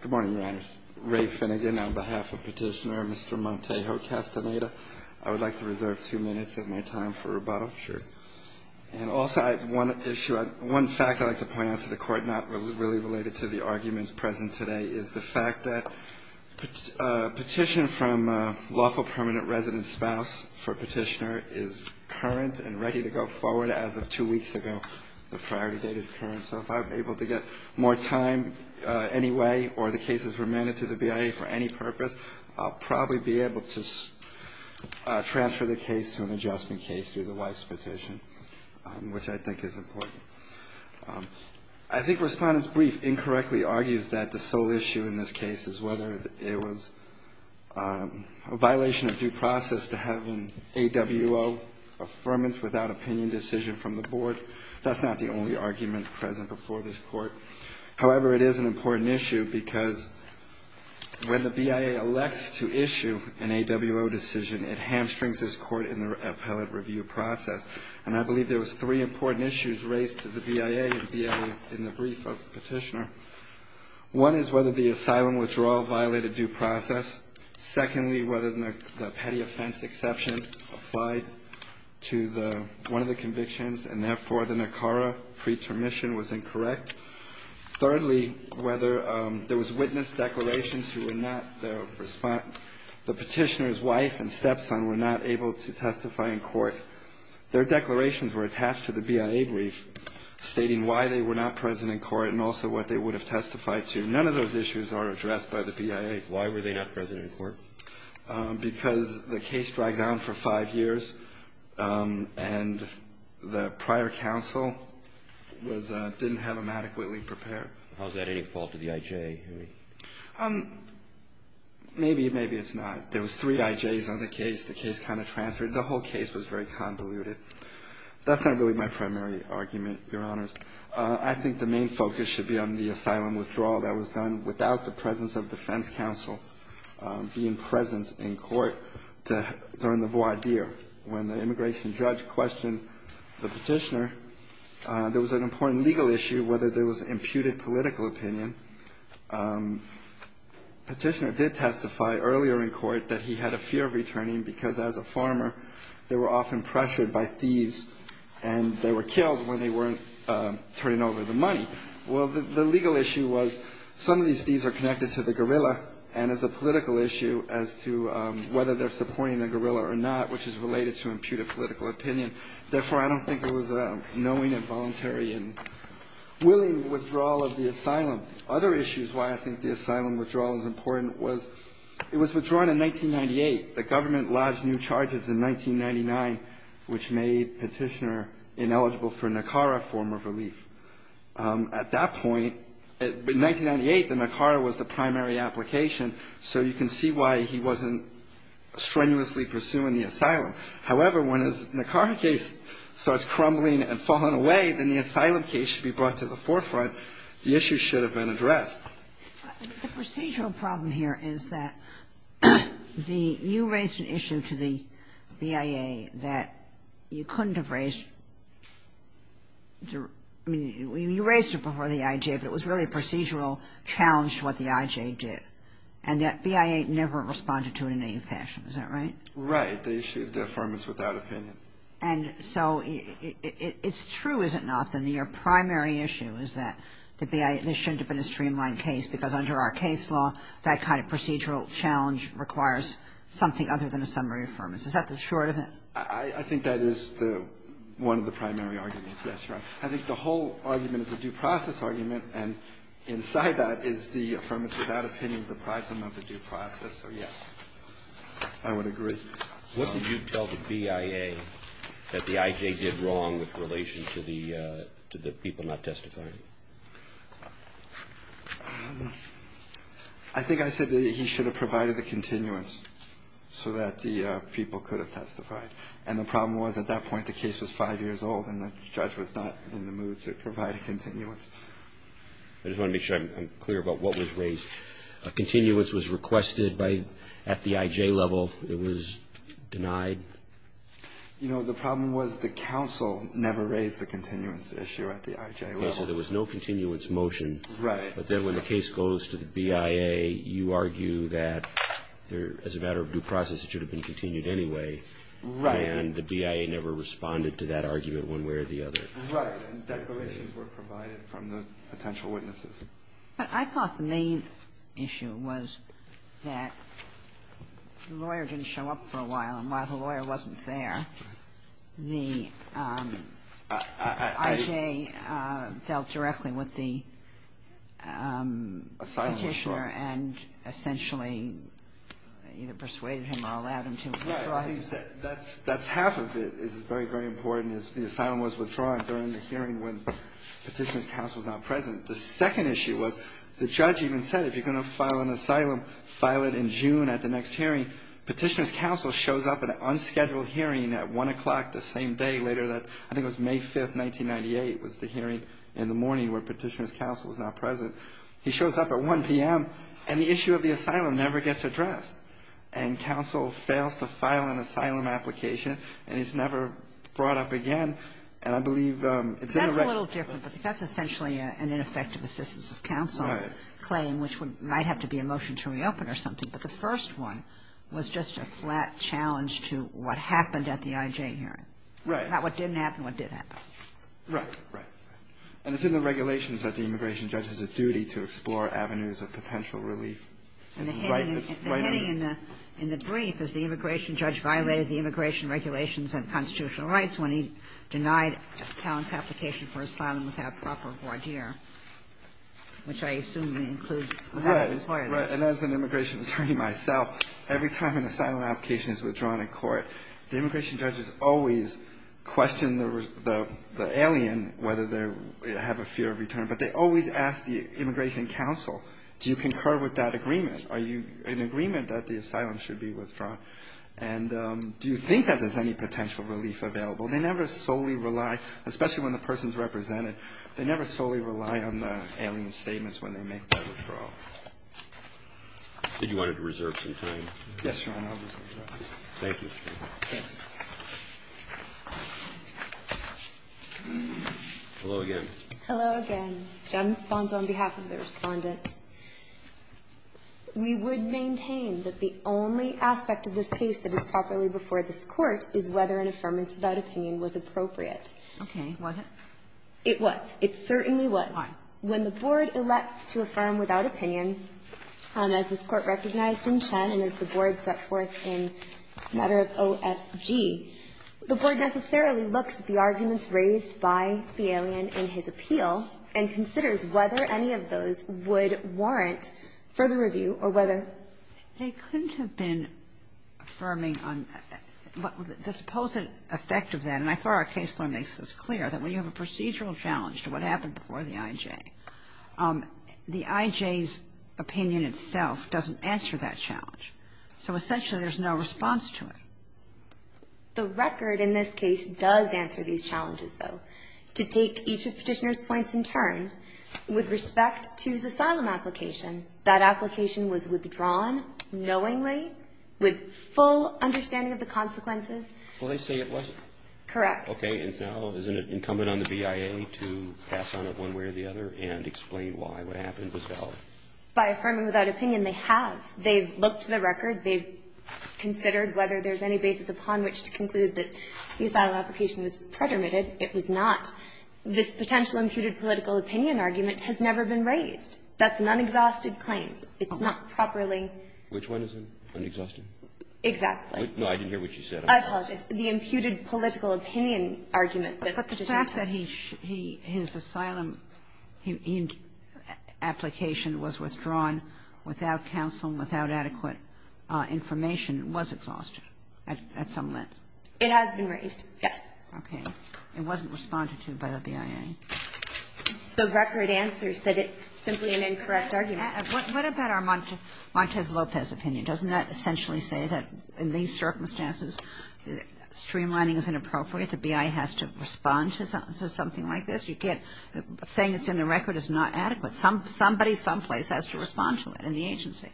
Good morning, Your Honors. Ray Finnegan on behalf of Petitioner, Mr. Montejo-Castaneda. I would like to reserve two minutes of my time for rebuttal. Sure. And also I have one issue, one fact I'd like to point out to the Court, not really related to the arguments present today, is the fact that a petition from a lawful permanent resident spouse for Petitioner is current and ready to go forward as of two weeks ago. The priority date is current, so if I'm able to get more time anyway or the case is remanded to the BIA for any purpose, I'll probably be able to transfer the case to an adjustment case through the wife's petition, which I think is important. I think Respondent's brief incorrectly argues that the sole issue in this case is whether it was a violation of due process to have an AWO affirmance without opinion decision from the Board. That's not the only argument present before this Court. However, it is an important issue because when the BIA elects to issue an AWO decision, it hamstrings this Court in the appellate review process. And I believe there was three important issues raised to the BIA in the brief of Petitioner. One is whether the asylum withdrawal violated due process. Secondly, whether the petty offense exception applied to the one of the convictions, and therefore, the NACARA pretermission was incorrect. Thirdly, whether there was witness declarations who were not the respondent, the Petitioner's wife and stepson were not able to testify in court. Their declarations were attached to the BIA brief stating why they were not present in court and also what they would have testified to. None of those issues are addressed by the BIA. Why were they not present in court? Because the case dragged on for five years, and the prior counsel was — didn't have them adequately prepared. How is that any fault of the IJ? Maybe, maybe it's not. There was three IJs on the case. The case kind of transferred. The whole case was very convoluted. That's not really my primary argument, Your Honors. I think the main focus should be on the asylum withdrawal that was done without the presence of defense counsel being present in court during the voir dire. When the immigration judge questioned the Petitioner, there was an important legal issue whether there was imputed political opinion. Petitioner did testify earlier in court that he had a fear of returning because, as a farmer, they were often pressured by thieves, and they were killed when they weren't turning over the money. Well, the legal issue was some of these thieves are connected to the guerrilla, and it's a political issue as to whether they're supporting the guerrilla or not, which is related to imputed political opinion. Therefore, I don't think it was a knowing and voluntary and willing withdrawal of the asylum. Other issues why I think the asylum withdrawal is important was it was withdrawn in 1998. The government lodged new charges in 1999, which made Petitioner ineligible for NACARA form of relief. At that point, in 1998, the NACARA was the primary application, so you can see why he wasn't strenuously pursuing the asylum. However, when his NACARA case starts crumbling and falling away, then the asylum case should be brought to the forefront. The issue should have been addressed. The procedural problem here is that you raised an issue to the BIA that you couldn't have raised. I mean, you raised it before the IJ, but it was really a procedural challenge to what the IJ did, and that BIA never responded to it in any fashion. Is that right? Right. They issued the affirmation without opinion. And so it's true, is it not, that your primary issue is that the BIA shouldn't have been a streamlined case, because under our case law, that kind of procedural challenge requires something other than a summary affirmation. Is that the short of it? I think that is the one of the primary arguments. That's right. I think the whole argument is a due process argument, and inside that is the affirmation without opinion, the prism of the due process. So, yes, I would agree. What did you tell the BIA that the IJ did wrong with relation to the people not testifying? I think I said that he should have provided the continuance so that the people could have testified. And the problem was at that point the case was five years old, and the judge was not in the mood to provide a continuance. I just want to make sure I'm clear about what was raised. A continuance was requested at the IJ level. It was denied? You know, the problem was the counsel never raised the continuance issue at the IJ level. Okay. So there was no continuance motion. Right. But then when the case goes to the BIA, you argue that as a matter of due process it should have been continued anyway. Right. And the BIA never responded to that argument one way or the other. Right. And declarations were provided from the potential witnesses. But I thought the main issue was that the lawyer didn't show up for a while. And while the lawyer wasn't there, the IJ dealt directly with the Petitioner and essentially either persuaded him or allowed him to withdraw his case. Right. I think you said that's half of it is very, very important, is the asylum was withdrawn during the hearing when Petitioner's counsel was not present. The second issue was the judge even said, if you're going to file an asylum, file it in June at the next hearing. Petitioner's counsel shows up at an unscheduled hearing at 1 o'clock the same day later that I think it was May 5th, 1998, was the hearing in the morning where Petitioner's counsel was not present. He shows up at 1 p.m., and the issue of the asylum never gets addressed. And counsel fails to file an asylum application, and it's never brought up again. And I believe it's in the regulations. That's a little different, but that's essentially an ineffective assistance of counsel claim, which might have to be a motion to reopen or something. But the first one was just a flat challenge to what happened at the IJ hearing. Right. Not what didn't happen, what did happen. Right. Right. And it's in the regulations that the immigration judge has a duty to explore avenues of potential relief. And the heading in the brief is the immigration judge violated the immigration regulations and constitutional rights when he denied Callan's application for asylum without proper voir dire, which I assume includes the federal employer. Right. And as an immigration attorney myself, every time an asylum application is withdrawn in court, the immigration judges always question the alien whether they have a fear of return. But they always ask the immigration counsel, do you concur with that agreement? Are you in agreement that the asylum should be withdrawn? And do you think that there's any potential relief available? They never solely rely, especially when the person is represented, they never solely rely on the alien statements when they make that withdrawal. So you wanted to reserve some time. Yes, Your Honor, I'll reserve some time. Thank you. Thank you. Hello again. Hello again. Jen responds on behalf of the respondent. We would maintain that the only aspect of this case that is properly before this court is whether an affirmance without opinion was appropriate. Okay. Was it? It was. It certainly was. Why? When the Board elects to affirm without opinion, as this Court recognized in Chen and as the Board set forth in matter of OSG, the Board necessarily looks at the arguments raised by the alien in his appeal and considers whether any of those would warrant further review or whether. They couldn't have been affirming on the supposed effect of that, and I thought our case law makes this clear, that when you have a procedural challenge to what happened before the IJ, the IJ's opinion itself doesn't answer that challenge. So essentially there's no response to it. The record in this case does answer these challenges, though. I think it's important to take each of Petitioner's points in turn with respect to his asylum application. That application was withdrawn knowingly with full understanding of the consequences. Well, they say it wasn't. Correct. Okay. And now isn't it incumbent on the BIA to pass on it one way or the other and explain why what happened was valid? By affirming without opinion, they have. They've looked to the record. They've considered whether there's any basis upon which to conclude that the asylum application was predominated. It was not. This potential imputed political opinion argument has never been raised. That's an unexhausted claim. It's not properly. Which one is it? Unexhausted? Exactly. No, I didn't hear what you said. I apologize. The imputed political opinion argument that Petitioner has. But the fact that his asylum application was withdrawn without counsel and without adequate information was exhausted at some length. It has been raised. Yes. Okay. It wasn't responded to by the BIA. The record answers that it's simply an incorrect argument. What about our Montez Lopez opinion? Doesn't that essentially say that in these circumstances, streamlining is inappropriate? The BIA has to respond to something like this? You can't. Saying it's in the record is not adequate. Somebody someplace has to respond to it in the agency.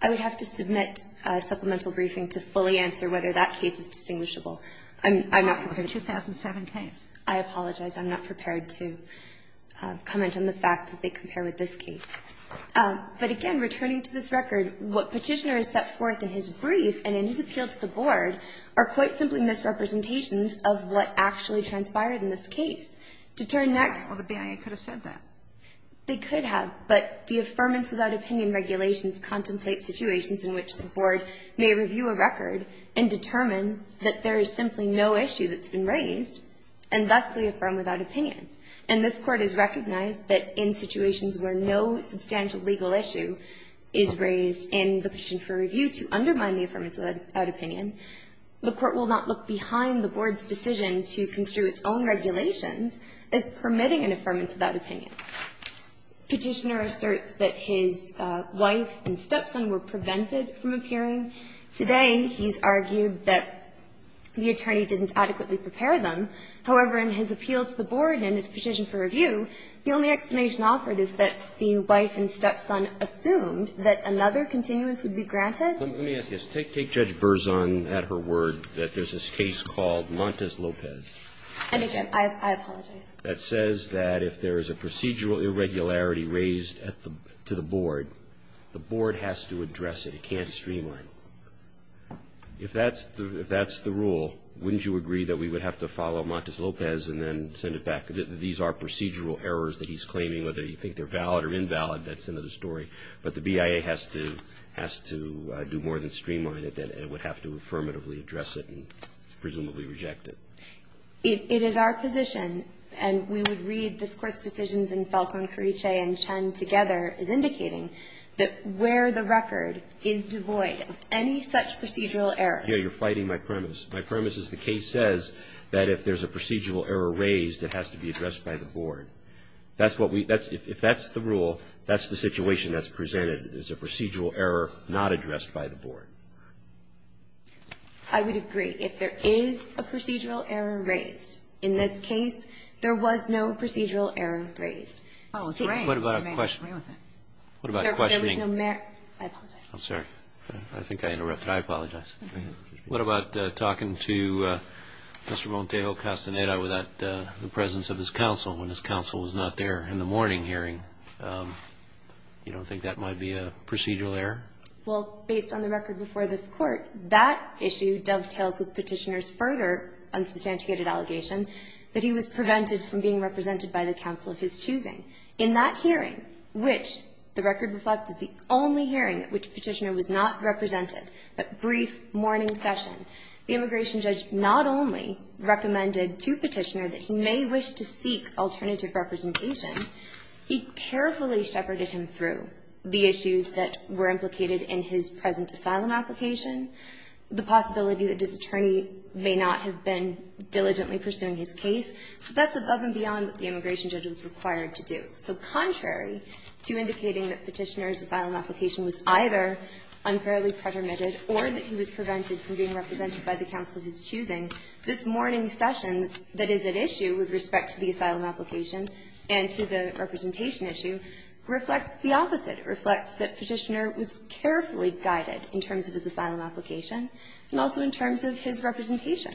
I would have to submit a supplemental briefing to fully answer whether that case is distinguishable. I'm not prepared. It's a 2007 case. I apologize. I'm not prepared to comment on the fact that they compare with this case. But, again, returning to this record, what Petitioner has set forth in his brief and in his appeal to the Board are quite simply misrepresentations of what actually transpired in this case. To turn next. Well, the BIA could have said that. They could have. But the Affirmance Without Opinion regulations contemplate situations in which the there's simply no issue that's been raised, and thusly affirm without opinion. And this Court has recognized that in situations where no substantial legal issue is raised in the petition for review to undermine the Affirmance Without Opinion, the Court will not look behind the Board's decision to construe its own regulations as permitting an Affirmance Without Opinion. Petitioner asserts that his wife and stepson were prevented from appearing. Today, he's argued that the attorney didn't adequately prepare them. However, in his appeal to the Board and in his petition for review, the only explanation offered is that the wife and stepson assumed that another continuance would be granted. Let me ask you this. Take Judge Berzon at her word that there's this case called Montes Lopez. And, again, I apologize. That says that if there is a procedural irregularity raised to the Board, the Board has to address it. It can't streamline. If that's the rule, wouldn't you agree that we would have to follow Montes Lopez and then send it back? These are procedural errors that he's claiming. Whether you think they're valid or invalid, that's another story. But the BIA has to do more than streamline it. It would have to affirmatively address it and presumably reject it. It is our position, and we would read this Court's decisions in Falcone, Carriche, and Chen together, as indicating that where the record is devoid of any such procedural error. Yeah, you're fighting my premise. My premise is the case says that if there's a procedural error raised, it has to be addressed by the Board. That's what we – that's – if that's the rule, that's the situation that's presented, is a procedural error not addressed by the Board. I would agree. If there is a procedural error raised, in this case, there was no procedural error raised. Oh, it's raining. What about questioning? There was no – I apologize. I'm sorry. I think I interrupted. I apologize. What about talking to Mr. Montejo Castaneda without the presence of his counsel when his counsel was not there in the morning hearing? You don't think that might be a procedural error? Well, based on the record before this Court, that issue dovetails with Petitioner's further unsubstantiated allegation that he was prevented from being represented by the counsel of his choosing. In that hearing, which the record reflects is the only hearing at which Petitioner was not represented, that brief morning session, the immigration judge not only recommended to Petitioner that he may wish to seek alternative representation, he carefully shepherded him through the issues that were implicated in his present asylum application, the possibility that this attorney may not have been diligently pursuing his case. That's above and beyond what the immigration judge was required to do. So contrary to indicating that Petitioner's asylum application was either unfairly pretermitted or that he was prevented from being represented by the counsel of his choosing, this morning session that is at issue with respect to the asylum application and to the representation issue reflects the opposite. It reflects that Petitioner was carefully guided in terms of his asylum application and also in terms of his representation.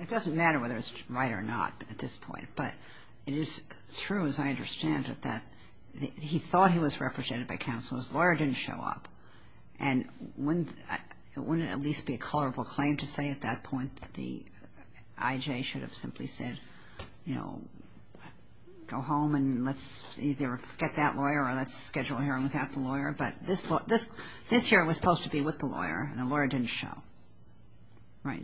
It doesn't matter whether it's right or not at this point. But it is true, as I understand it, that he thought he was represented by counsel. His lawyer didn't show up. And it wouldn't at least be a colorable claim to say at that point that the IJ should have simply said, you know, go home and let's either get that lawyer or let's schedule a hearing without the lawyer. But this hearing was supposed to be with the lawyer, and the lawyer didn't show. Right.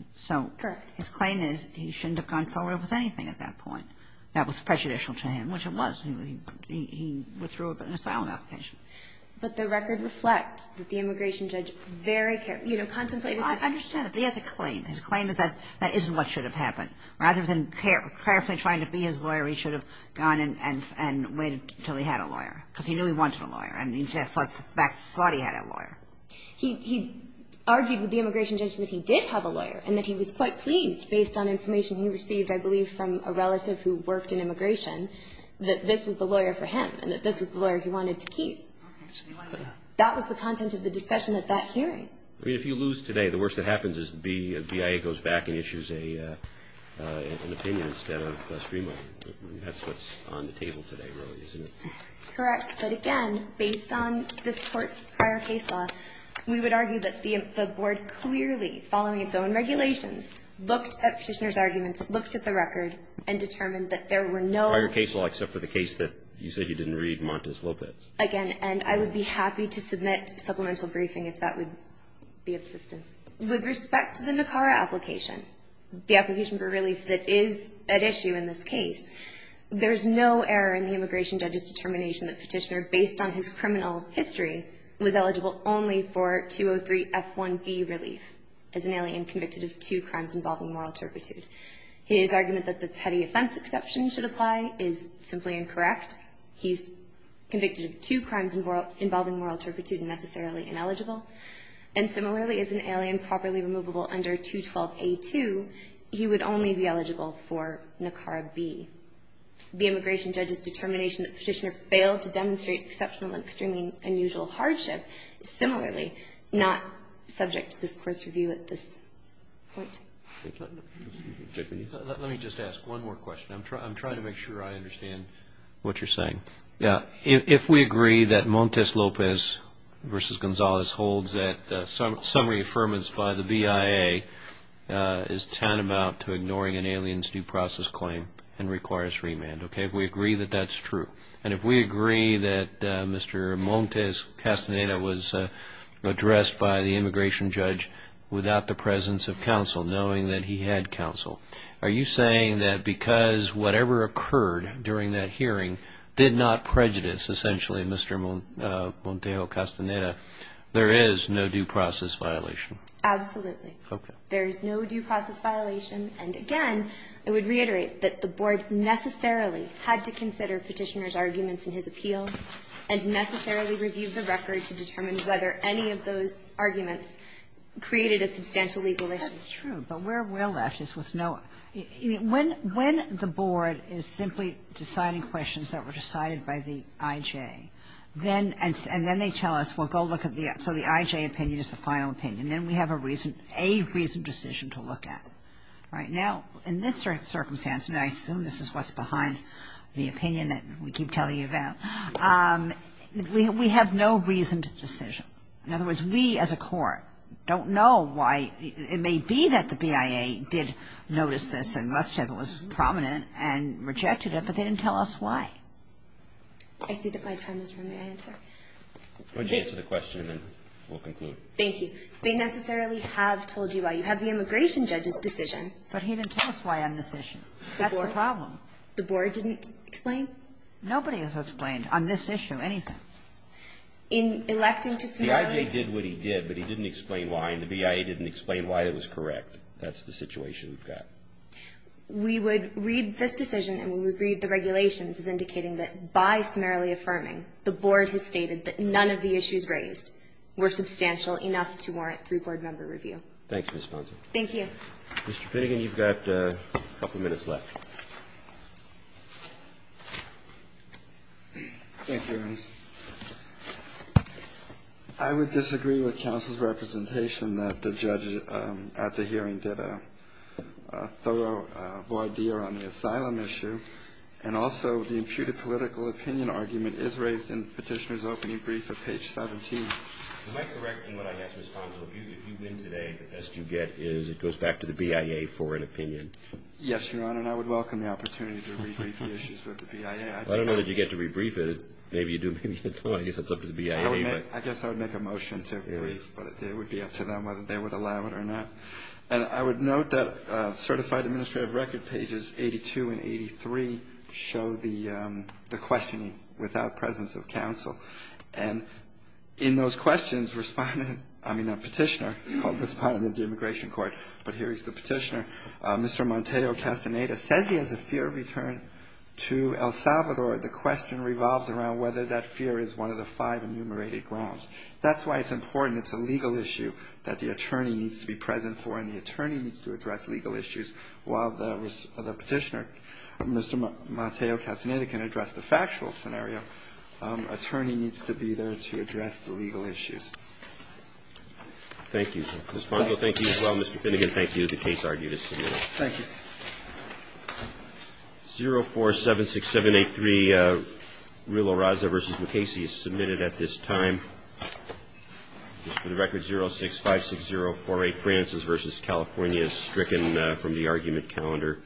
Correct. So his claim is he shouldn't have gone forward with anything at that point that was prejudicial to him, which it was. He withdrew an asylum application. But the record reflects that the immigration judge very carefully, you know, contemplated I understand, but he has a claim. His claim is that that isn't what should have happened. Rather than carefully trying to be his lawyer, he should have gone and waited until he had a lawyer, because he knew he wanted a lawyer, and he thought he had a lawyer. He argued with the immigration judge that he did have a lawyer and that he was quite pleased, based on information he received, I believe, from a relative who worked in immigration, that this was the lawyer for him and that this was the lawyer he wanted to keep. Okay. So he liked that. That was the content of the discussion at that hearing. I mean, if you lose today, the worst that happens is the BIA goes back and issues an opinion instead of a streamline. That's what's on the table today, really, isn't it? Correct. But again, based on this Court's prior case law, we would argue that the board clearly, following its own regulations, looked at Petitioner's arguments, looked at the record, and determined that there were no other cases except for the case that you said you didn't read, Montes Lopez. Again, and I would be happy to submit supplemental briefing if that would be of assistance. With respect to the NACARA application, the application for relief that is at issue in this case, there's no error in the immigration judge's determination that Petitioner, based on his criminal history, was eligible only for 203F1B relief as an alien convicted of two crimes involving moral turpitude. His argument that the petty offense exception should apply is simply incorrect. He's convicted of two crimes involving moral turpitude and necessarily ineligible. And similarly, as an alien properly removable under 212A2, he would only be eligible for NACARA B. The immigration judge's determination that Petitioner failed to demonstrate exceptional and extremely unusual hardship is similarly not subject to this Court's review at this point. Let me just ask one more question. I'm trying to make sure I understand what you're saying. Yeah. If we agree that Montes Lopez v. Gonzalez holds that summary affirmance by the BIA is tantamount to ignoring an alien's due process claim and requires remand, okay, if we agree that that's true, and if we agree that Mr. Montes Castaneda was addressed by the immigration judge without the presence of counsel, knowing that he had counsel, are you saying that because whatever occurred during that hearing did not prejudice, essentially, Mr. Montes Castaneda, there is no due process violation? Absolutely. Okay. There is no due process violation. And again, I would reiterate that the Board necessarily had to consider Petitioner's arguments in his appeal and necessarily review the record to determine whether any of those arguments created a substantial legal issue. That's true. But where we're left is with no other. When the Board is simply deciding questions that were decided by the IJ, then they tell us, well, go look at the other. So the IJ opinion is the final opinion. Then we have a reasoned decision to look at. Right now, in this circumstance, and I assume this is what's behind the opinion that we keep telling you about, we have no reasoned decision. In other words, we as a court don't know why. It may be that the BIA did notice this and must have it was prominent and rejected it, but they didn't tell us why. I see that my time is running out, sir. Why don't you answer the question and we'll conclude. Thank you. They necessarily have told you why. You have the immigration judge's decision. But he didn't tell us why on this issue. That's the problem. The Board didn't explain? Nobody has explained on this issue anything. In electing to summarily ---- The IJ did what he did, but he didn't explain why, and the BIA didn't explain why it was correct. That's the situation we've got. We would read this decision and we would read the regulations as indicating that by summarily affirming, the Board has stated that none of the issues raised were substantial enough to warrant three-Board member review. Thanks, Ms. Ponson. Thank you. Mr. Finnegan, you've got a couple minutes left. Thank you, Your Honor. I would disagree with counsel's representation that the judge at the hearing did a thorough voir dire on the asylum issue, and also the imputed political opinion argument is raised in the petitioner's opening brief at page 17. Am I correct in what I guess, Ms. Ponson, if you win today, the best you get is it goes back to the BIA for an opinion? Yes, Your Honor, and I would welcome the opportunity to rebrief the issues with the BIA. I don't know that you get to rebrief it. Maybe you do. I guess that's up to the BIA. I guess I would make a motion to rebrief. But it would be up to them whether they would allow it or not. And I would note that certified administrative record pages 82 and 83 show the questioning without presence of counsel. And in those questions, respondent, I mean not petitioner, respondent of the Immigration Court, but here is the petitioner, Mr. Monteo Castaneda, says he has a fear of return to El Salvador. The question revolves around whether that fear is one of the five enumerated grounds. That's why it's important. It's a legal issue that the attorney needs to be present for, and the attorney needs to address legal issues while the petitioner, Mr. Monteo Castaneda, can address the factual scenario. The attorney needs to be there to address the legal issues. Thank you. Ms. Fongo, thank you as well. Mr. Finnegan, thank you. The case argued as submitted. Thank you. 0476783, Rilo Raza v. McCasey is submitted at this time. Just for the record, 0656048, Francis v. California is stricken from the argument calendar.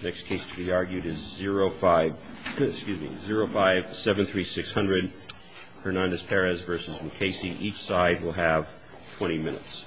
The next case to be argued is 0573600, Hernandez Perez v. McCasey. Each side will have 20 minutes.